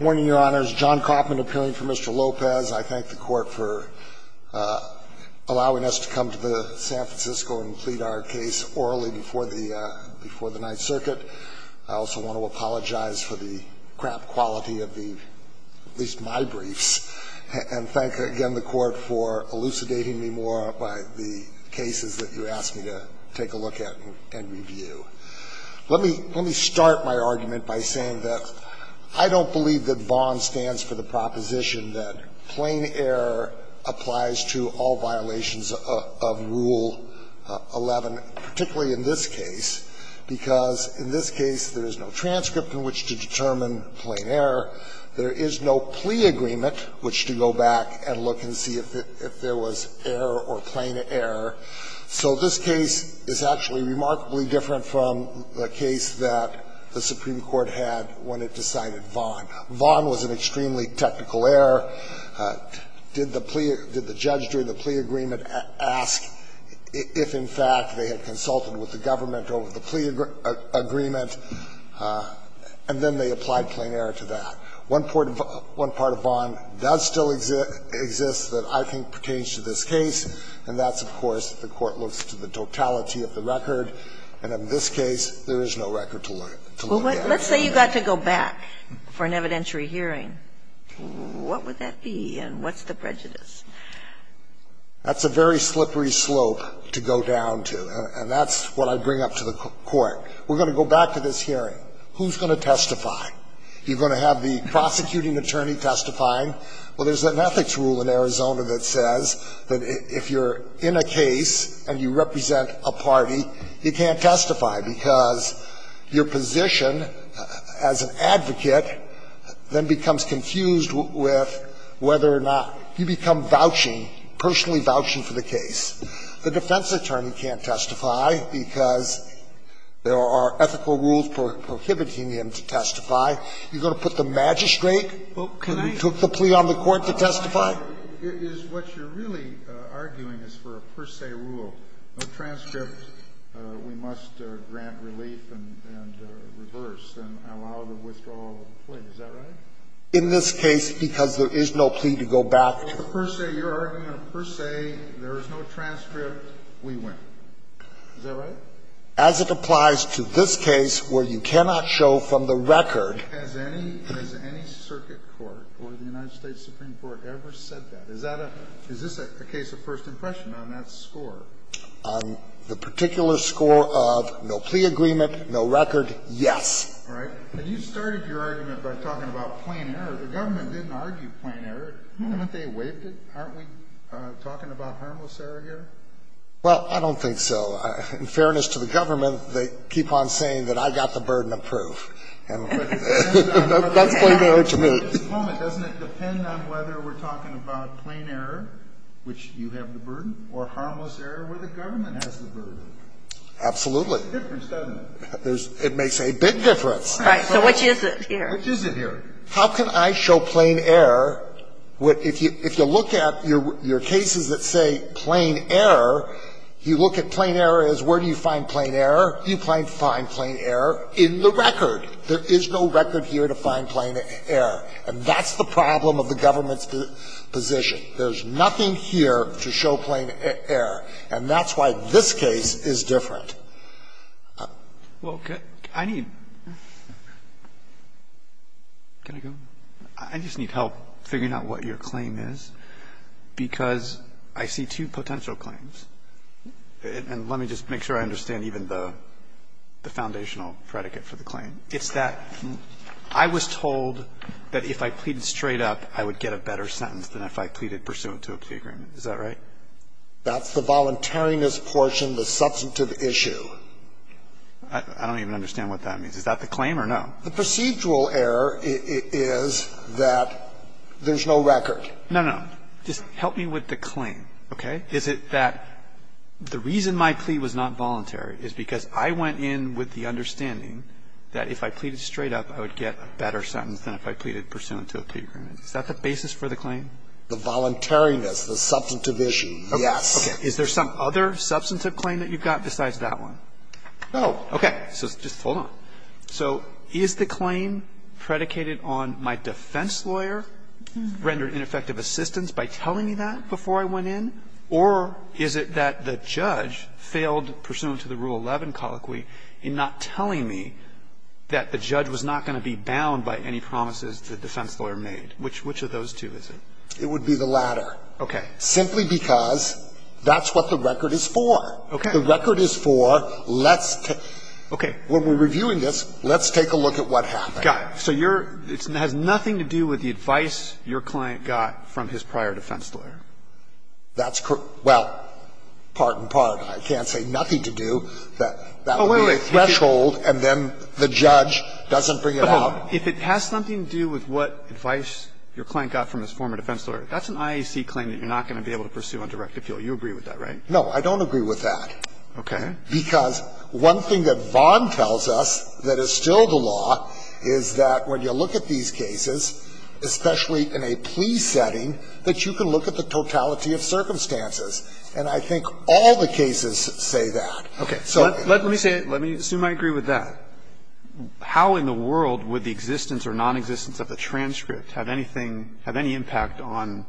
Morning, Your Honors. John Kaufman appealing for Mr. Lopez. I thank the Court for allowing us to come to the San Francisco and plead our case orally before the Ninth Circuit. I also want to apologize for the crap quality of the, at least my briefs, and thank again the Court for elucidating me more by the cases that you asked me to take a look at and review. Let me start my argument by saying that I don't believe that VON stands for the proposition that plain error applies to all violations of Rule 11, particularly in this case, because in this case there is no transcript in which to determine plain error. There is no plea agreement which to go back and look and see if there was error or plain error. So this case is actually remarkably different from the case that the Supreme Court had when it decided VON. VON was an extremely technical error. Did the plea – did the judge during the plea agreement ask if, in fact, they had consulted with the government over the plea agreement? And then they applied plain error to that. One part of VON does still exist that I think pertains to this case, and that's, of course, the court looks to the totality of the record. And in this case, there is no record to look at. Let's say you got to go back for an evidentiary hearing. What would that be and what's the prejudice? That's a very slippery slope to go down to, and that's what I bring up to the Court. We're going to go back to this hearing. Who's going to testify? You're going to have the prosecuting attorney testifying. Well, there's an ethics rule in Arizona that says that if you're in a case and you represent a party, you can't testify because your position as an advocate then becomes confused with whether or not you become vouching, personally vouching for the case. The defense attorney can't testify because there are ethical rules prohibiting him to testify. You're going to put the magistrate who took the plea on the court to testify? It is what you're really arguing is for a per se rule. No transcript. We must grant relief and reverse and allow the withdrawal of the plea. Is that right? In this case, because there is no plea to go back to. If it's a per se, your argument, a per se, there is no transcript, we win. Is that right? As it applies to this case where you cannot show from the record. Has any circuit court or the United States Supreme Court ever said that? Is that a – is this a case of first impression on that score? On the particular score of no plea agreement, no record, yes. All right. And you started your argument by talking about plain error. The government didn't argue plain error. Haven't they waived it? Aren't we talking about harmless error here? Well, I don't think so. In fairness to the government, they keep on saying that I got the burden of proof. And that's plain error to me. Doesn't it depend on whether we're talking about plain error, which you have the burden, or harmless error where the government has the burden? Absolutely. It makes a difference, doesn't it? It makes a big difference. Right. So which is it here? Which is it here? How can I show plain error? If you look at your cases that say plain error, you look at plain error as where do you find plain error? You find plain error in the record. There is no record here to find plain error. And that's the problem of the government's position. There's nothing here to show plain error. And that's why this case is different. Well, I need to go. I just need help figuring out what your claim is, because I see two potential claims. And let me just make sure I understand even the foundational predicate for the claim. It's that I was told that if I pleaded straight up, I would get a better sentence than if I pleaded pursuant to a plea agreement. Is that right? That's the voluntariness portion, the substantive issue. I don't even understand what that means. Is that the claim or no? The procedural error is that there's no record. No, no. Just help me with the claim, okay? Is it that the reason my plea was not voluntary is because I went in with the understanding that if I pleaded straight up, I would get a better sentence than if I pleaded pursuant to a plea agreement. Is that the basis for the claim? The voluntariness, the substantive issue, yes. Okay. Is there some other substantive claim that you've got besides that one? No. Okay. So just hold on. So is the claim predicated on my defense lawyer rendered ineffective assistance by telling me that before I went in, or is it that the judge failed pursuant to the Rule 11 colloquy in not telling me that the judge was not going to be bound by any promises the defense lawyer made? Which of those two is it? It would be the latter. Okay. Simply because that's what the record is for. Okay. The record is for let's take. Okay. When we're reviewing this, let's take a look at what happened. Got it. So you're – it has nothing to do with the advice your client got from his prior defense lawyer? That's correct. Well, part and part. I can't say nothing to do that. That would be a threshold, and then the judge doesn't bring it out. But if it has something to do with what advice your client got from his former defense lawyer, that's an IAC claim that you're not going to be able to pursue on direct appeal. You agree with that, right? No, I don't agree with that. Okay. Because one thing that Vaughan tells us that is still the law is that when you look at these cases, especially in a plea setting, that you can look at the totality of circumstances. And I think all the cases say that. Okay. Let me say it. Let me assume I agree with that. How in the world would the existence or nonexistence of the transcript have anything – have any impact on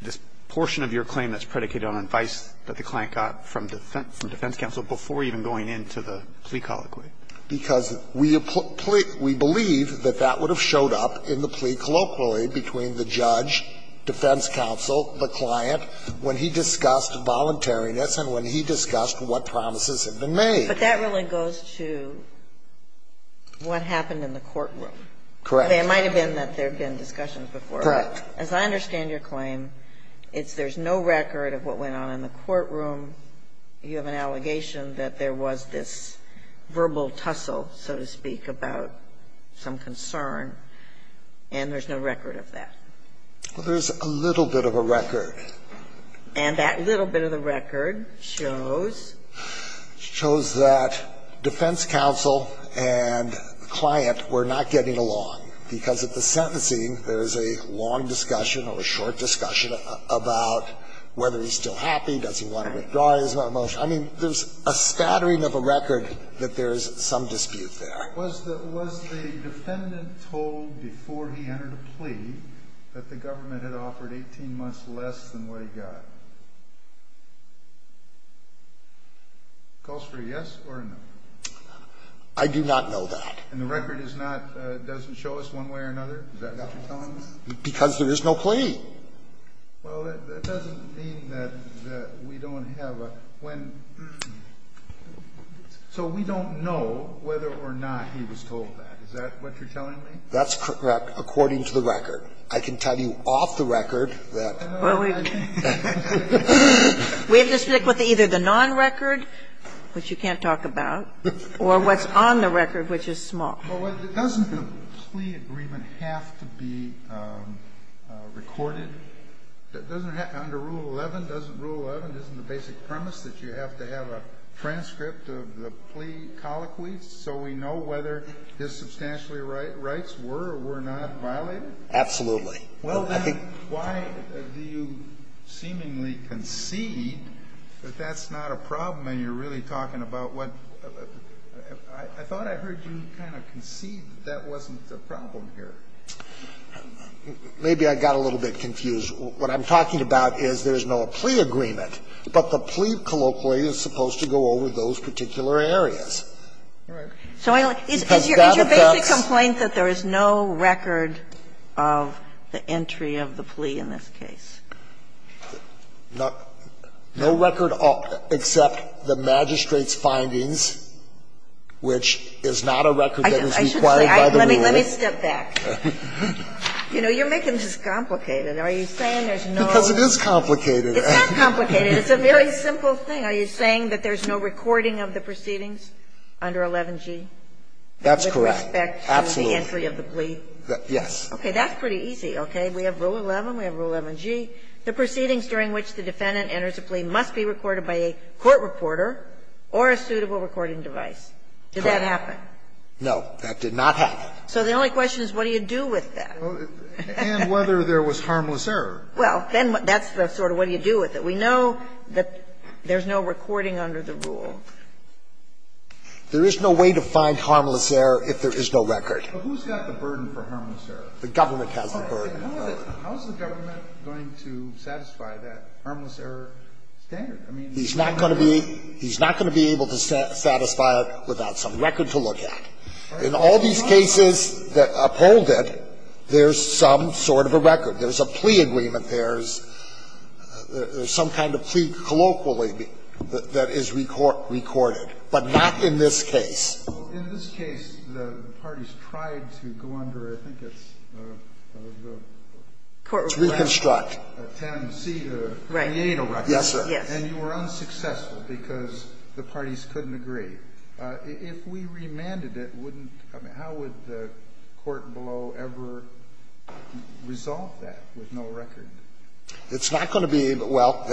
this portion of your claim that's predicated on advice that the client got from defense counsel before even going into the plea colloquy? Because we believe that that would have showed up in the plea colloquy between the judge, defense counsel, the client, when he discussed voluntariness and when he discussed what promises had been made. But that really goes to what happened in the courtroom. Correct. I mean, it might have been that there had been discussions before. Correct. As I understand your claim, it's there's no record of what went on in the courtroom. You have an allegation that there was this verbal tussle, so to speak, about some concern, and there's no record of that. Well, there's a little bit of a record. And that little bit of the record shows? Shows that defense counsel and client were not getting along, because at the sentencing there is a long discussion or a short discussion about whether he's still happy, does he want to withdraw his motion. I mean, there's a spattering of a record that there is some dispute there. Was the defendant told before he entered a plea that the government had offered 18 months less than what he got? Calls for a yes or a no. I do not know that. And the record is not doesn't show us one way or another? Is that what you're telling me? Because there is no plea. Well, that doesn't mean that we don't have a when. So we don't know whether or not he was told that. Is that what you're telling me? That's correct, according to the record. I can tell you off the record that. We have to stick with either the non-record, which you can't talk about, or what's on the record, which is small. Well, doesn't the plea agreement have to be recorded? Under Rule 11, doesn't Rule 11, isn't the basic premise that you have to have a transcript of the plea colloquy so we know whether his substantially rights were or were not violated? Absolutely. Well, then, why do you seemingly concede that that's not a problem and you're really talking about what? I thought I heard you kind of concede that that wasn't the problem here. Maybe I got a little bit confused. What I'm talking about is there is no plea agreement, but the plea colloquy is supposed to go over those particular areas. Right. So is your basic complaint that there is no record of the entry of the plea in this case? No record except the magistrate's findings, which is not a record that is required by the rule. I should say, let me step back. You know, you're making this complicated. Are you saying there's no? Because it is complicated. It's not complicated. It's a very simple thing. Are you saying that there's no recording of the proceedings under 11g? That's correct. Absolutely. With respect to the entry of the plea? Yes. Okay. That's pretty easy. Okay. We have Rule 11. We have Rule 11g. The proceedings during which the defendant enters a plea must be recorded by a court reporter or a suitable recording device. Correct. Did that happen? No, that did not happen. So the only question is what do you do with that? And whether there was harmless error. Well, then that's the sort of what do you do with it. We know that there's no recording under the rule. There is no way to find harmless error if there is no record. But who's got the burden for harmless error? The government has the burden. How is the government going to satisfy that harmless error standard? He's not going to be able to satisfy it without some record to look at. In all these cases that uphold it, there's some sort of a record. There's a plea agreement. There's some kind of plea colloquially that is recorded. But not in this case. In this case, the parties tried to go under, I think it's a court request. It's reconstruct. Right. Yes, sir. And you were unsuccessful because the parties couldn't agree. If we remanded it, wouldn't the court below ever resolve that with no record? It's not going to be able to. Well,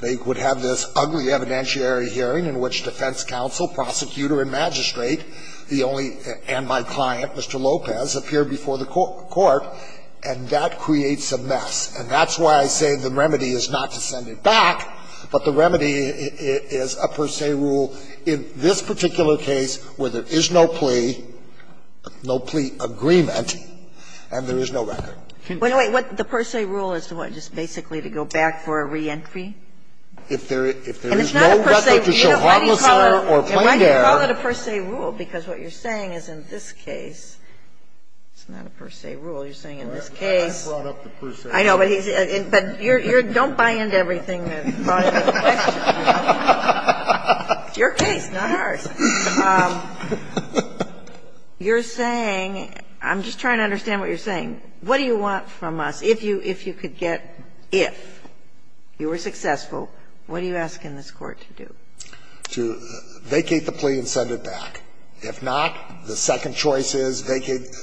they would have this ugly evidentiary hearing in which defense counsel, prosecutor, and magistrate, the only and my client, Mr. Lopez, appear before the court, and that creates a mess. And that's why I say the remedy is not to send it back, but the remedy is a per se rule in this particular case where there is no plea, no plea agreement, and there is no record. Wait a minute. The per se rule is what, just basically to go back for a reentry? If there is no record to show harmless error or plain error. And why do you call it a per se rule? Because what you're saying is in this case, it's not a per se rule. You're saying in this case. I brought up the per se rule. I know, but you're don't buy into everything that's brought into the question. It's your case, not ours. You're saying, I'm just trying to understand what you're saying. What do you want from us? If you could get, if you were successful, what do you ask in this Court to do? To vacate the plea and send it back. If not, the second choice is vacate,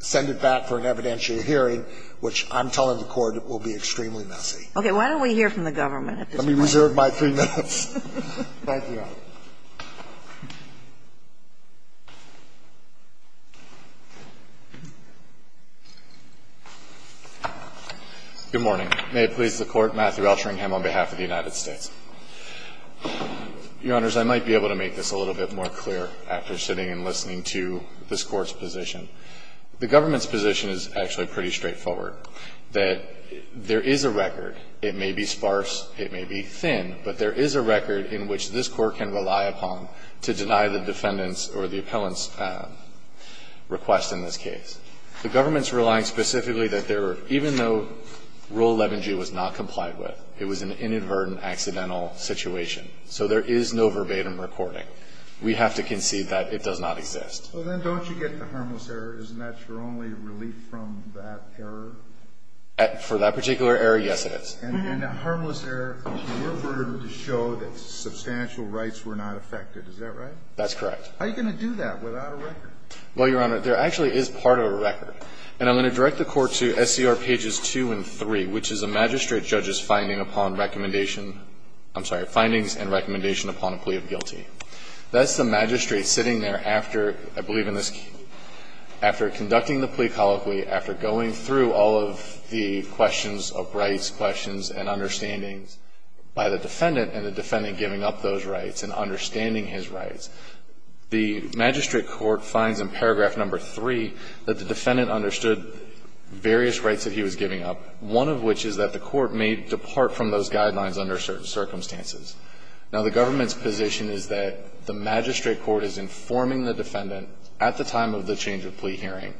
send it back for an evidential hearing, which I'm telling the Court will be extremely messy. Okay. Why don't we hear from the government at this point? Let me reserve my three minutes. Thank you, Your Honor. Good morning. May it please the Court. Matthew Alteringham on behalf of the United States. Your Honors, I might be able to make this a little bit more clear after sitting and listening to this Court's position. The government's position is actually pretty straightforward, that there is a record. It may be sparse. It may be thin. But there is a record in which this Court can rely upon to deny the defendant's or the appellant's request in this case. The government's relying specifically that there, even though Rule 11g was not complied with, it was an inadvertent, accidental situation. So there is no verbatim recording. We have to concede that it does not exist. So then don't you get the harmless error? Isn't that your only relief from that error? For that particular error, yes, it is. And in the harmless error, you were able to show that substantial rights were not affected, is that right? That's correct. How are you going to do that without a record? Well, Your Honor, there actually is part of a record. And I'm going to direct the Court to SCR pages 2 and 3, which is a magistrate judge's finding upon recommendation – I'm sorry, findings and recommendation upon a plea of guilty. That's the magistrate sitting there after, I believe in this case, after conducting the plea colloquy, after going through all of the questions of rights, questions and understandings by the defendant and the defendant giving up those rights and understanding his rights, the magistrate court finds in paragraph number 3 that the defendant understood various rights that he was giving up, one of which is that the court may depart from those guidelines under certain circumstances. Now, the government's position is that the magistrate court is informing the defendant at the time of the change of plea hearing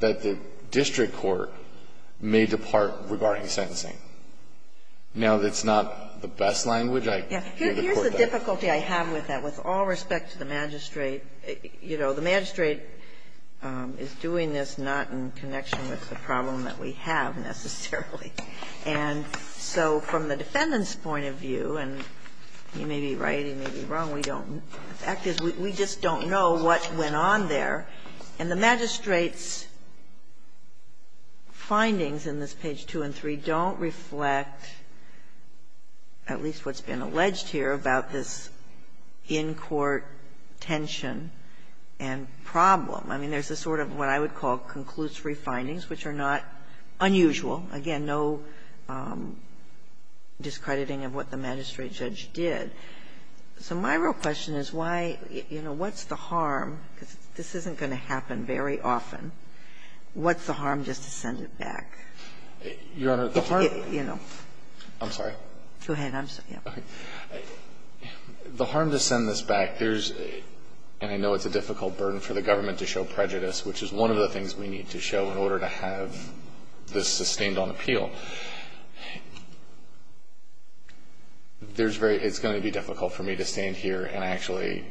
that the district court may depart regarding sentencing. Now, that's not the best language I can give the Court that. Here's the difficulty I have with that. With all respect to the magistrate, you know, the magistrate is doing this not in connection with the problem that we have, necessarily. And so from the defendant's point of view, and he may be right, he may be wrong, and we don't know. The fact is we just don't know what went on there. And the magistrate's findings in this page 2 and 3 don't reflect at least what's been alleged here about this in-court tension and problem. I mean, there's a sort of what I would call conclusory findings, which are not unusual. Again, no discrediting of what the magistrate judge did. So my real question is why, you know, what's the harm? Because this isn't going to happen very often. What's the harm just to send it back? You know. I'm sorry. Go ahead. I'm sorry. Okay. The harm to send this back, there's and I know it's a difficult burden for the government to show prejudice, which is one of the things we need to show in order to have this sustained on appeal. There's very – it's going to be difficult for me to stand here and actually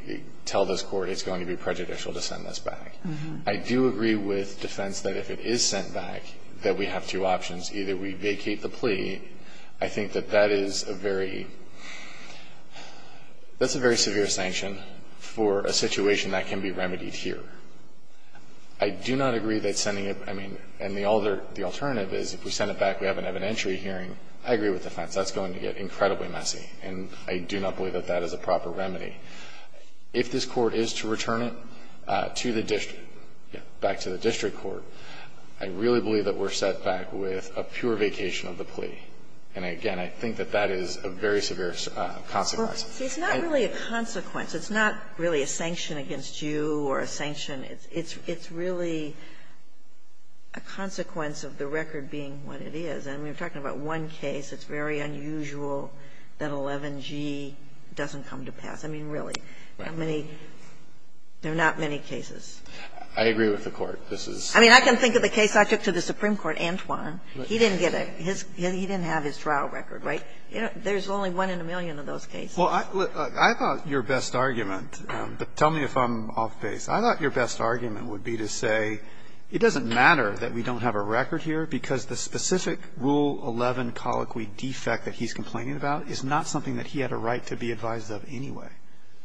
tell this Court it's going to be prejudicial to send this back. I do agree with defense that if it is sent back, that we have two options. Either we vacate the plea. I think that that is a very – that's a very severe sanction for a situation that can be remedied here. I do not agree that sending it – I mean, and the alternative is if we send it back, we have an evidentiary hearing. I agree with defense. That's going to get incredibly messy. And I do not believe that that is a proper remedy. If this Court is to return it to the district, back to the district court, I really believe that we're set back with a pure vacation of the plea. And, again, I think that that is a very severe consequence. Sotomayor, it's not really a consequence. It's not really a sanction against you or a sanction. It's really a consequence of the record being what it is. I mean, we're talking about one case. It's very unusual that 11g doesn't come to pass. I mean, really, how many – there are not many cases. I agree with the Court. This is – I mean, I can think of the case I took to the Supreme Court, Antoine. He didn't get a – he didn't have his trial record, right? There's only one in a million of those cases. Well, look, I thought your best argument – but tell me if I'm off base. I thought your best argument would be to say it doesn't matter that we don't have a record here because the specific Rule 11 colloquy defect that he's complaining about is not something that he had a right to be advised of anyway.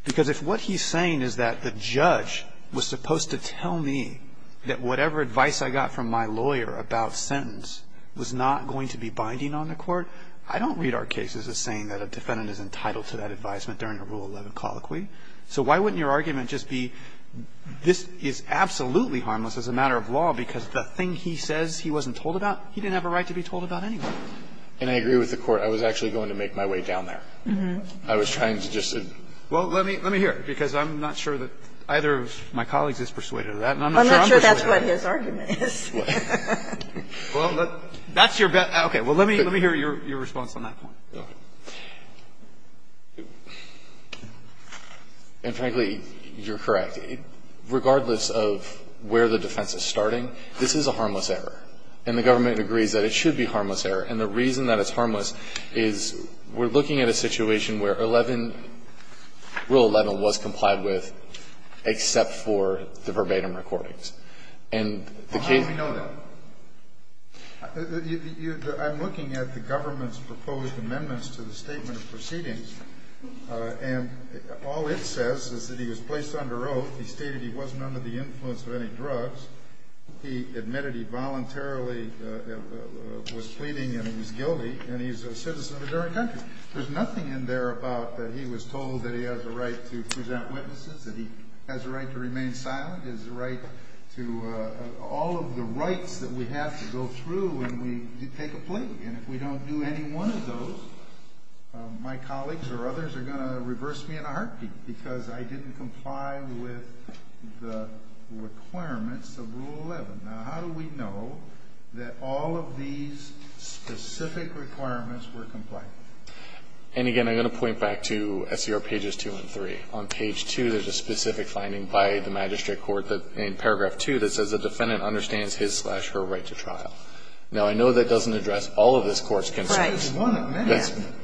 Because if what he's saying is that the judge was supposed to tell me that whatever advice I got from my lawyer about sentence was not going to be binding on the Court, I don't read our cases as saying that a defendant is entitled to that advisement during a Rule 11 colloquy. So why wouldn't your argument just be, this is absolutely harmless as a matter of law because the thing he says he wasn't told about, he didn't have a right to be told about anyway? And I agree with the Court. I was actually going to make my way down there. I was trying to just say – Well, let me hear it, because I'm not sure that either of my colleagues is persuaded of that, and I'm not sure I'm persuaded of that. I'm not sure that's what his argument is. Well, that's your best – okay. Well, let me hear your response on that point. And frankly, you're correct. Regardless of where the defense is starting, this is a harmless error. And the government agrees that it should be a harmless error. And the reason that it's harmless is we're looking at a situation where Rule 11 was complied with except for the verbatim recordings. And the case – Well, how do we know that? I'm looking at the government's proposed amendments to the statement of proceedings. And all it says is that he was placed under oath. He stated he wasn't under the influence of any drugs. He admitted he voluntarily was pleading and he was guilty, and he's a citizen of a different country. There's nothing in there about that he was told that he has a right to present witnesses, that he has a right to remain silent. His right to – all of the rights that we have to go through when we take a plea. And if we don't do any one of those, my colleagues or others are going to reverse me in a heartbeat because I didn't comply with the requirements of Rule 11. Now, how do we know that all of these specific requirements were complied with? And again, I'm going to point back to SCR pages 2 and 3. On page 2, there's a specific finding by the magistrate court in paragraph 2 that says the defendant understands his-slash-her right to trial. Now, I know that doesn't address all of this Court's concerns. That's correct.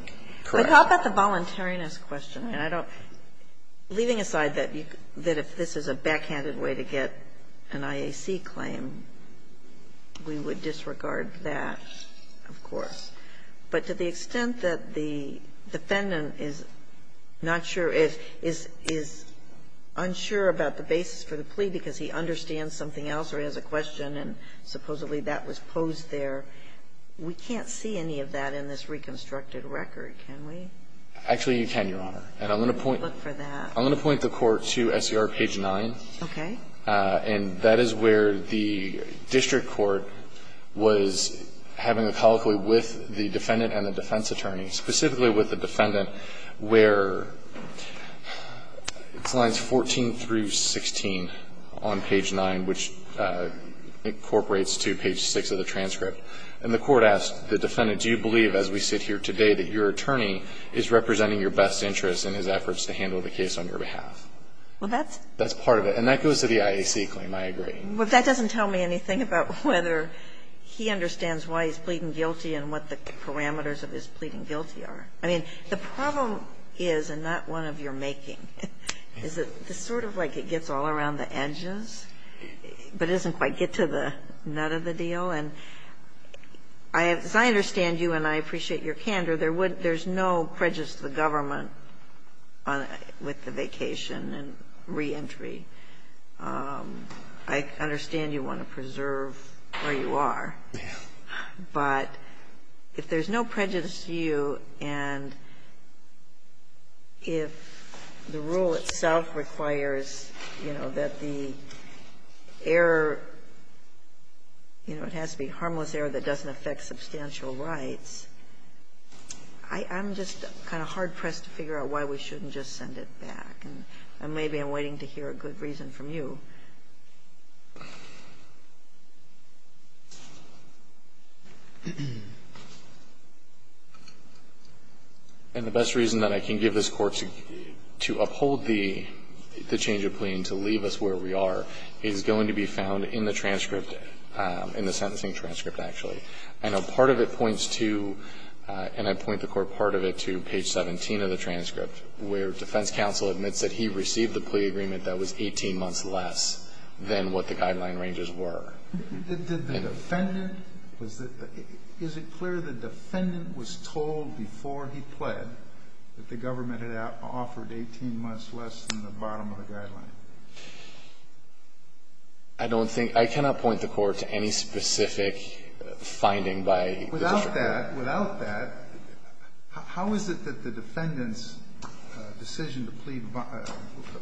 But how about the voluntariness question? And I don't – leaving aside that if this is a backhanded way to get an IAC claim, we would disregard that, of course. But to the extent that the defendant is not sure, is unsure about the basis for the plea because he understands something else or he has a question and supposedly that was posed there, we can't see any of that in this reconstructed record, can we? Actually, you can, Your Honor. And I'm going to point the court to SCR page 9. Okay. And that is where the district court was having a colloquy with the defendant and the defense attorney, specifically with the defendant where it's lines 14 through 16 on page 9, which incorporates to page 6 of the transcript. And the court asked the defendant, do you believe as we sit here today that your attorney is representing your best interests in his efforts to handle the case on your behalf? Well, that's part of it. And that goes to the IAC claim. I agree. But that doesn't tell me anything about whether he understands why he's pleading guilty and what the parameters of his pleading guilty are. I mean, the problem is, and not one of your making, is that it's sort of like it gets all around the edges, but it doesn't quite get to the nut of the deal. And as I understand you, and I appreciate your candor, there's no prejudice to the government with the vacation and reentry. I understand you want to preserve where you are. But if there's no prejudice to you and if the rule itself requires, you know, that the error, you know, it has to be harmless error that doesn't affect substantial rights, I'm just kind of hard-pressed to figure out why we shouldn't just send it back. And maybe I'm waiting to hear a good reason from you. And the best reason that I can give this Court to uphold the change of plea and to leave us where we are is going to be found in the transcript, in the sentencing transcript, actually. I know part of it points to, and I point the Court part of it to page 17 of the transcript, where defense counsel admits that he received a plea agreement that was 18 months less than what the guideline ranges were. Did the defendant, is it clear the defendant was told before he pled that the government had offered 18 months less than the bottom of the guideline? I don't think, I cannot point the Court to any specific finding by the defendant. Without that, without that, how is it that the defendant's decision to plead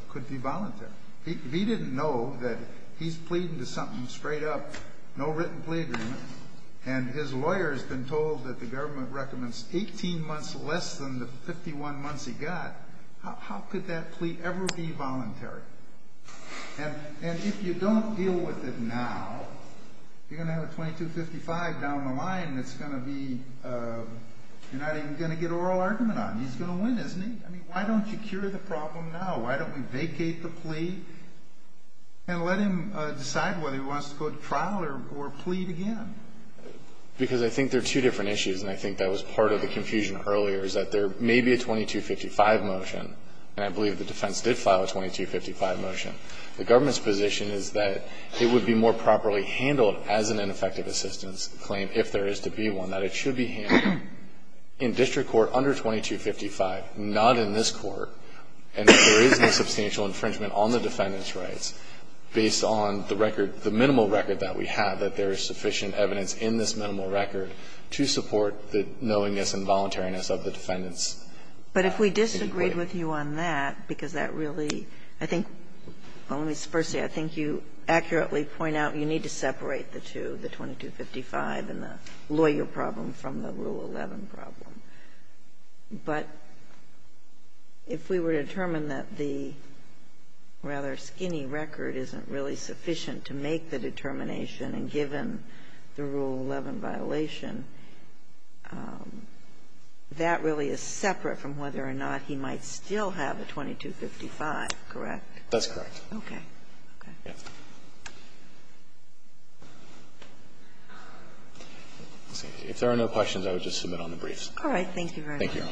could be voluntary? He didn't know that he's pleading to something straight up, no written plea agreement, and his lawyer's been told that the government recommends 18 months less than the 51 months he got. How could that plea ever be voluntary? And if you don't deal with it now, you're going to have a 2255 down the line that's going to be, you're not even going to get oral argument on. He's going to win, isn't he? I mean, why don't you cure the problem now? Why don't we vacate the plea and let him decide whether he wants to go to trial or plead again? Because I think they're two different issues, and I think that was part of the confusion earlier is that there may be a 2255 motion, and I believe the defense did file a 2255 motion. The government's position is that it would be more properly handled as an ineffective assistance claim if there is to be one, that it should be handled in district court under 2255, not in this Court, and if there is no substantial infringement on the defendant's rights based on the record, the minimal record that we have, that there is sufficient evidence in this minimal record to support the knowingness and voluntariness of the defendant's inquiry. Kagan. But if we disagreed with you on that, because that really, I think, well, let me first say, I think you accurately point out you need to separate the two, the 2255 and the lawyer problem from the Rule 11 problem. But if we were to determine that the rather skinny record isn't really sufficient to make the determination, and given the Rule 11 violation, that really is separate from whether or not he might still have a 2255, correct? That's correct. Okay. Okay. If there are no questions, I would just submit on the briefs. Thank you very much. Thank you, Your Honor.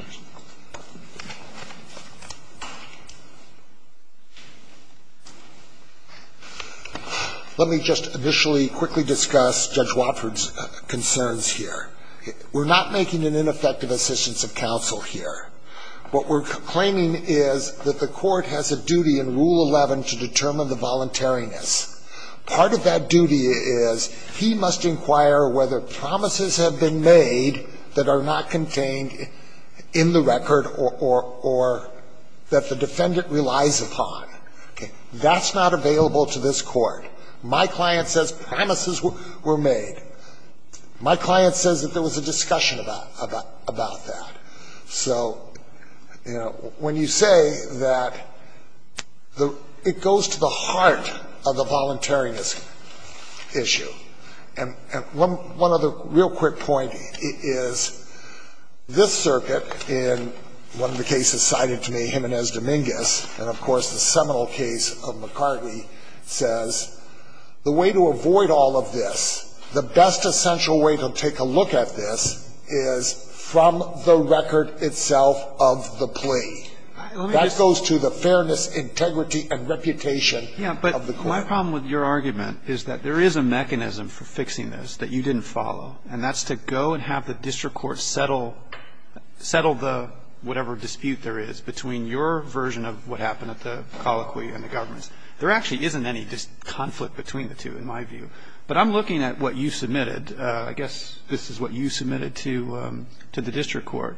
Let me just initially quickly discuss Judge Wofford's concerns here. We're not making an ineffective assistance of counsel here. What we're claiming is that the Court has a duty in Rule 11 to determine the voluntariness. Part of that duty is he must inquire whether promises have been made that are not contained in the record or that the defendant relies upon. That's not available to this Court. My client says promises were made. My client says that there was a discussion about that. So, you know, when you say that it goes to the heart of the voluntariness issue, and one other real quick point is this circuit in one of the cases cited to me, Jimenez-Dominguez, and of course the seminal case of McCartney, says the way to avoid all of this, the best essential way to take a look at this is from the record itself of the plea. That goes to the fairness, integrity, and reputation of the court. But my problem with your argument is that there is a mechanism for fixing this that you didn't follow, and that's to go and have the district court settle the whatever dispute there is between your version of what happened at the colloquy and the government's. There actually isn't any conflict between the two in my view. But I'm looking at what you submitted. I guess this is what you submitted to the district court.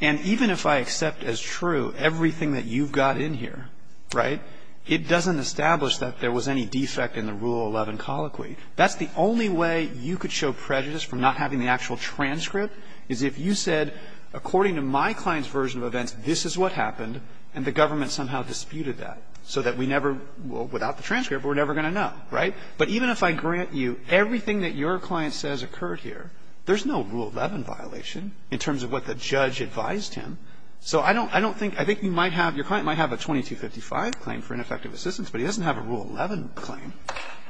And even if I accept as true everything that you've got in here, right, it doesn't establish that there was any defect in the Rule 11 colloquy. That's the only way you could show prejudice from not having the actual transcript, is if you said, according to my client's version of events, this is what happened, and the government somehow disputed that. So that we never, without the transcript, we're never going to know, right? But even if I grant you everything that your client says occurred here, there's no doubt that the judge advised him. So I don't think, I think you might have, your client might have a 2255 claim for ineffective assistance, but he doesn't have a Rule 11 claim.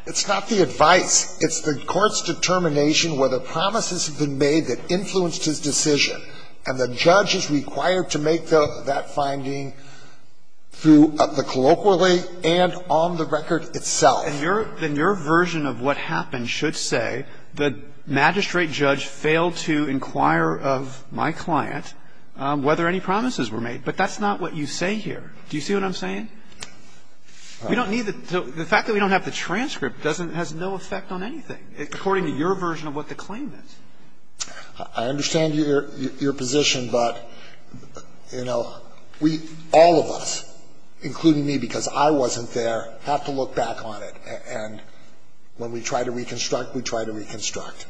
It's not the advice. It's the court's determination whether promises have been made that influenced his decision. And the judge is required to make that finding through the colloquially and on the record itself. Then your version of what happened should say the magistrate judge failed to inquire of my client whether any promises were made. But that's not what you say here. Do you see what I'm saying? We don't need the, the fact that we don't have the transcript doesn't, has no effect on anything, according to your version of what the claim is. I understand your position, but, you know, we, all of us, including me, because I wasn't there, have to look back on it. And when we try to reconstruct, we try to reconstruct.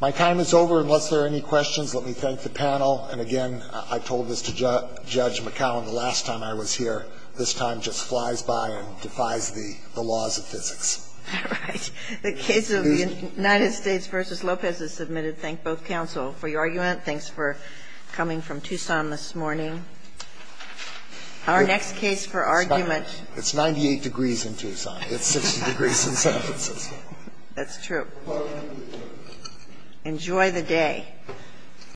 My time is over. Unless there are any questions, let me thank the panel. And again, I told this to Judge McAllen the last time I was here. This time just flies by and defies the, the laws of physics. All right. The case of the United States v. Lopez is submitted. Thank both counsel for your argument. Thanks for coming from Tucson this morning. Our next case for argument. It's 98 degrees in Tucson. It's 60 degrees in San Francisco. That's true. Enjoy the day.